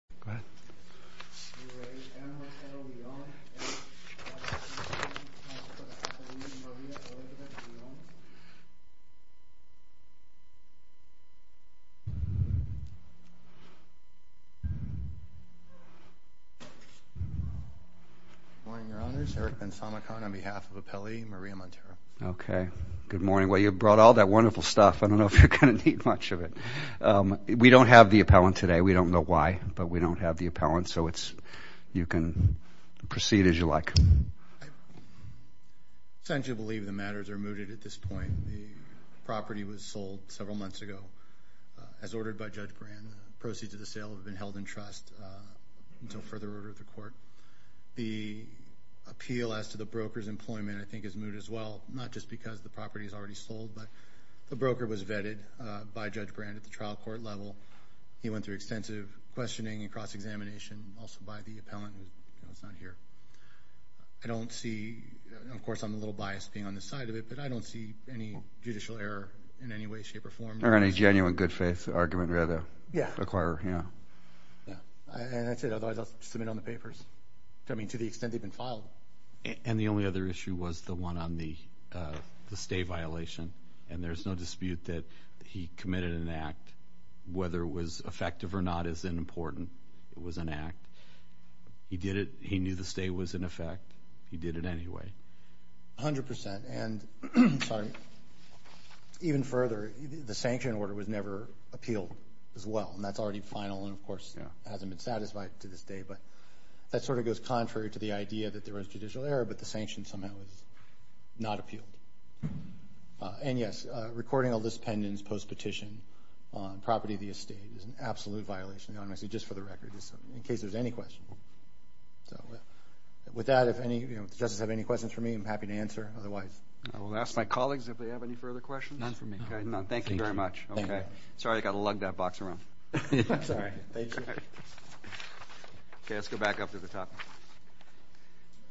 Good morning, Your Honors. Eric Ben-Samicon on behalf of Appellee Maria Montero. Okay, good morning. Well, you brought all that wonderful stuff. I don't know if you're going to need much of it. We don't have the appellant today. We don't know why, but we don't have the appellant. So you can proceed as you like. I believe the matters are mooted at this point. The property was sold several months ago as ordered by Judge Brand. The proceeds of the sale have been held in trust until further order of the court. The appeal as to the broker's employment, I think, is moot as well, not just because the property is already sold, but the broker was vetted by Judge Brand at the trial court level. He went through extensive questioning and cross-examination, also by the appellant, who is not here. Of course, I'm a little biased being on this side of it, but I don't see any judicial error in any way, shape, or form. Or any genuine good-faith argument, rather. Yeah. And that's it. Otherwise, I'll submit it on the papers. I mean, to the extent they've been filed. And the only other issue was the one on the stay violation. And there's no dispute that he committed an act. Whether it was effective or not isn't important. It was an act. He did it. He knew the stay was in effect. He did it anyway. A hundred percent. And, sorry, even further, the sanction order was never appealed as well. And that's already final and, of course, hasn't been satisfied to this day. But that sort of goes contrary to the idea that there was judicial error, but the sanction somehow was not appealed. And, yes, recording all this pendants post-petition on property of the estate is an absolute violation. Honestly, just for the record, in case there's any question. So with that, if any of the judges have any questions for me, I'm happy to answer. Otherwise, I will ask my colleagues if they have any further questions. None for me. None. Thank you very much. Thank you. Sorry I got to lug that box around. I'm sorry. Thank you. Okay. Let's go back up to the top.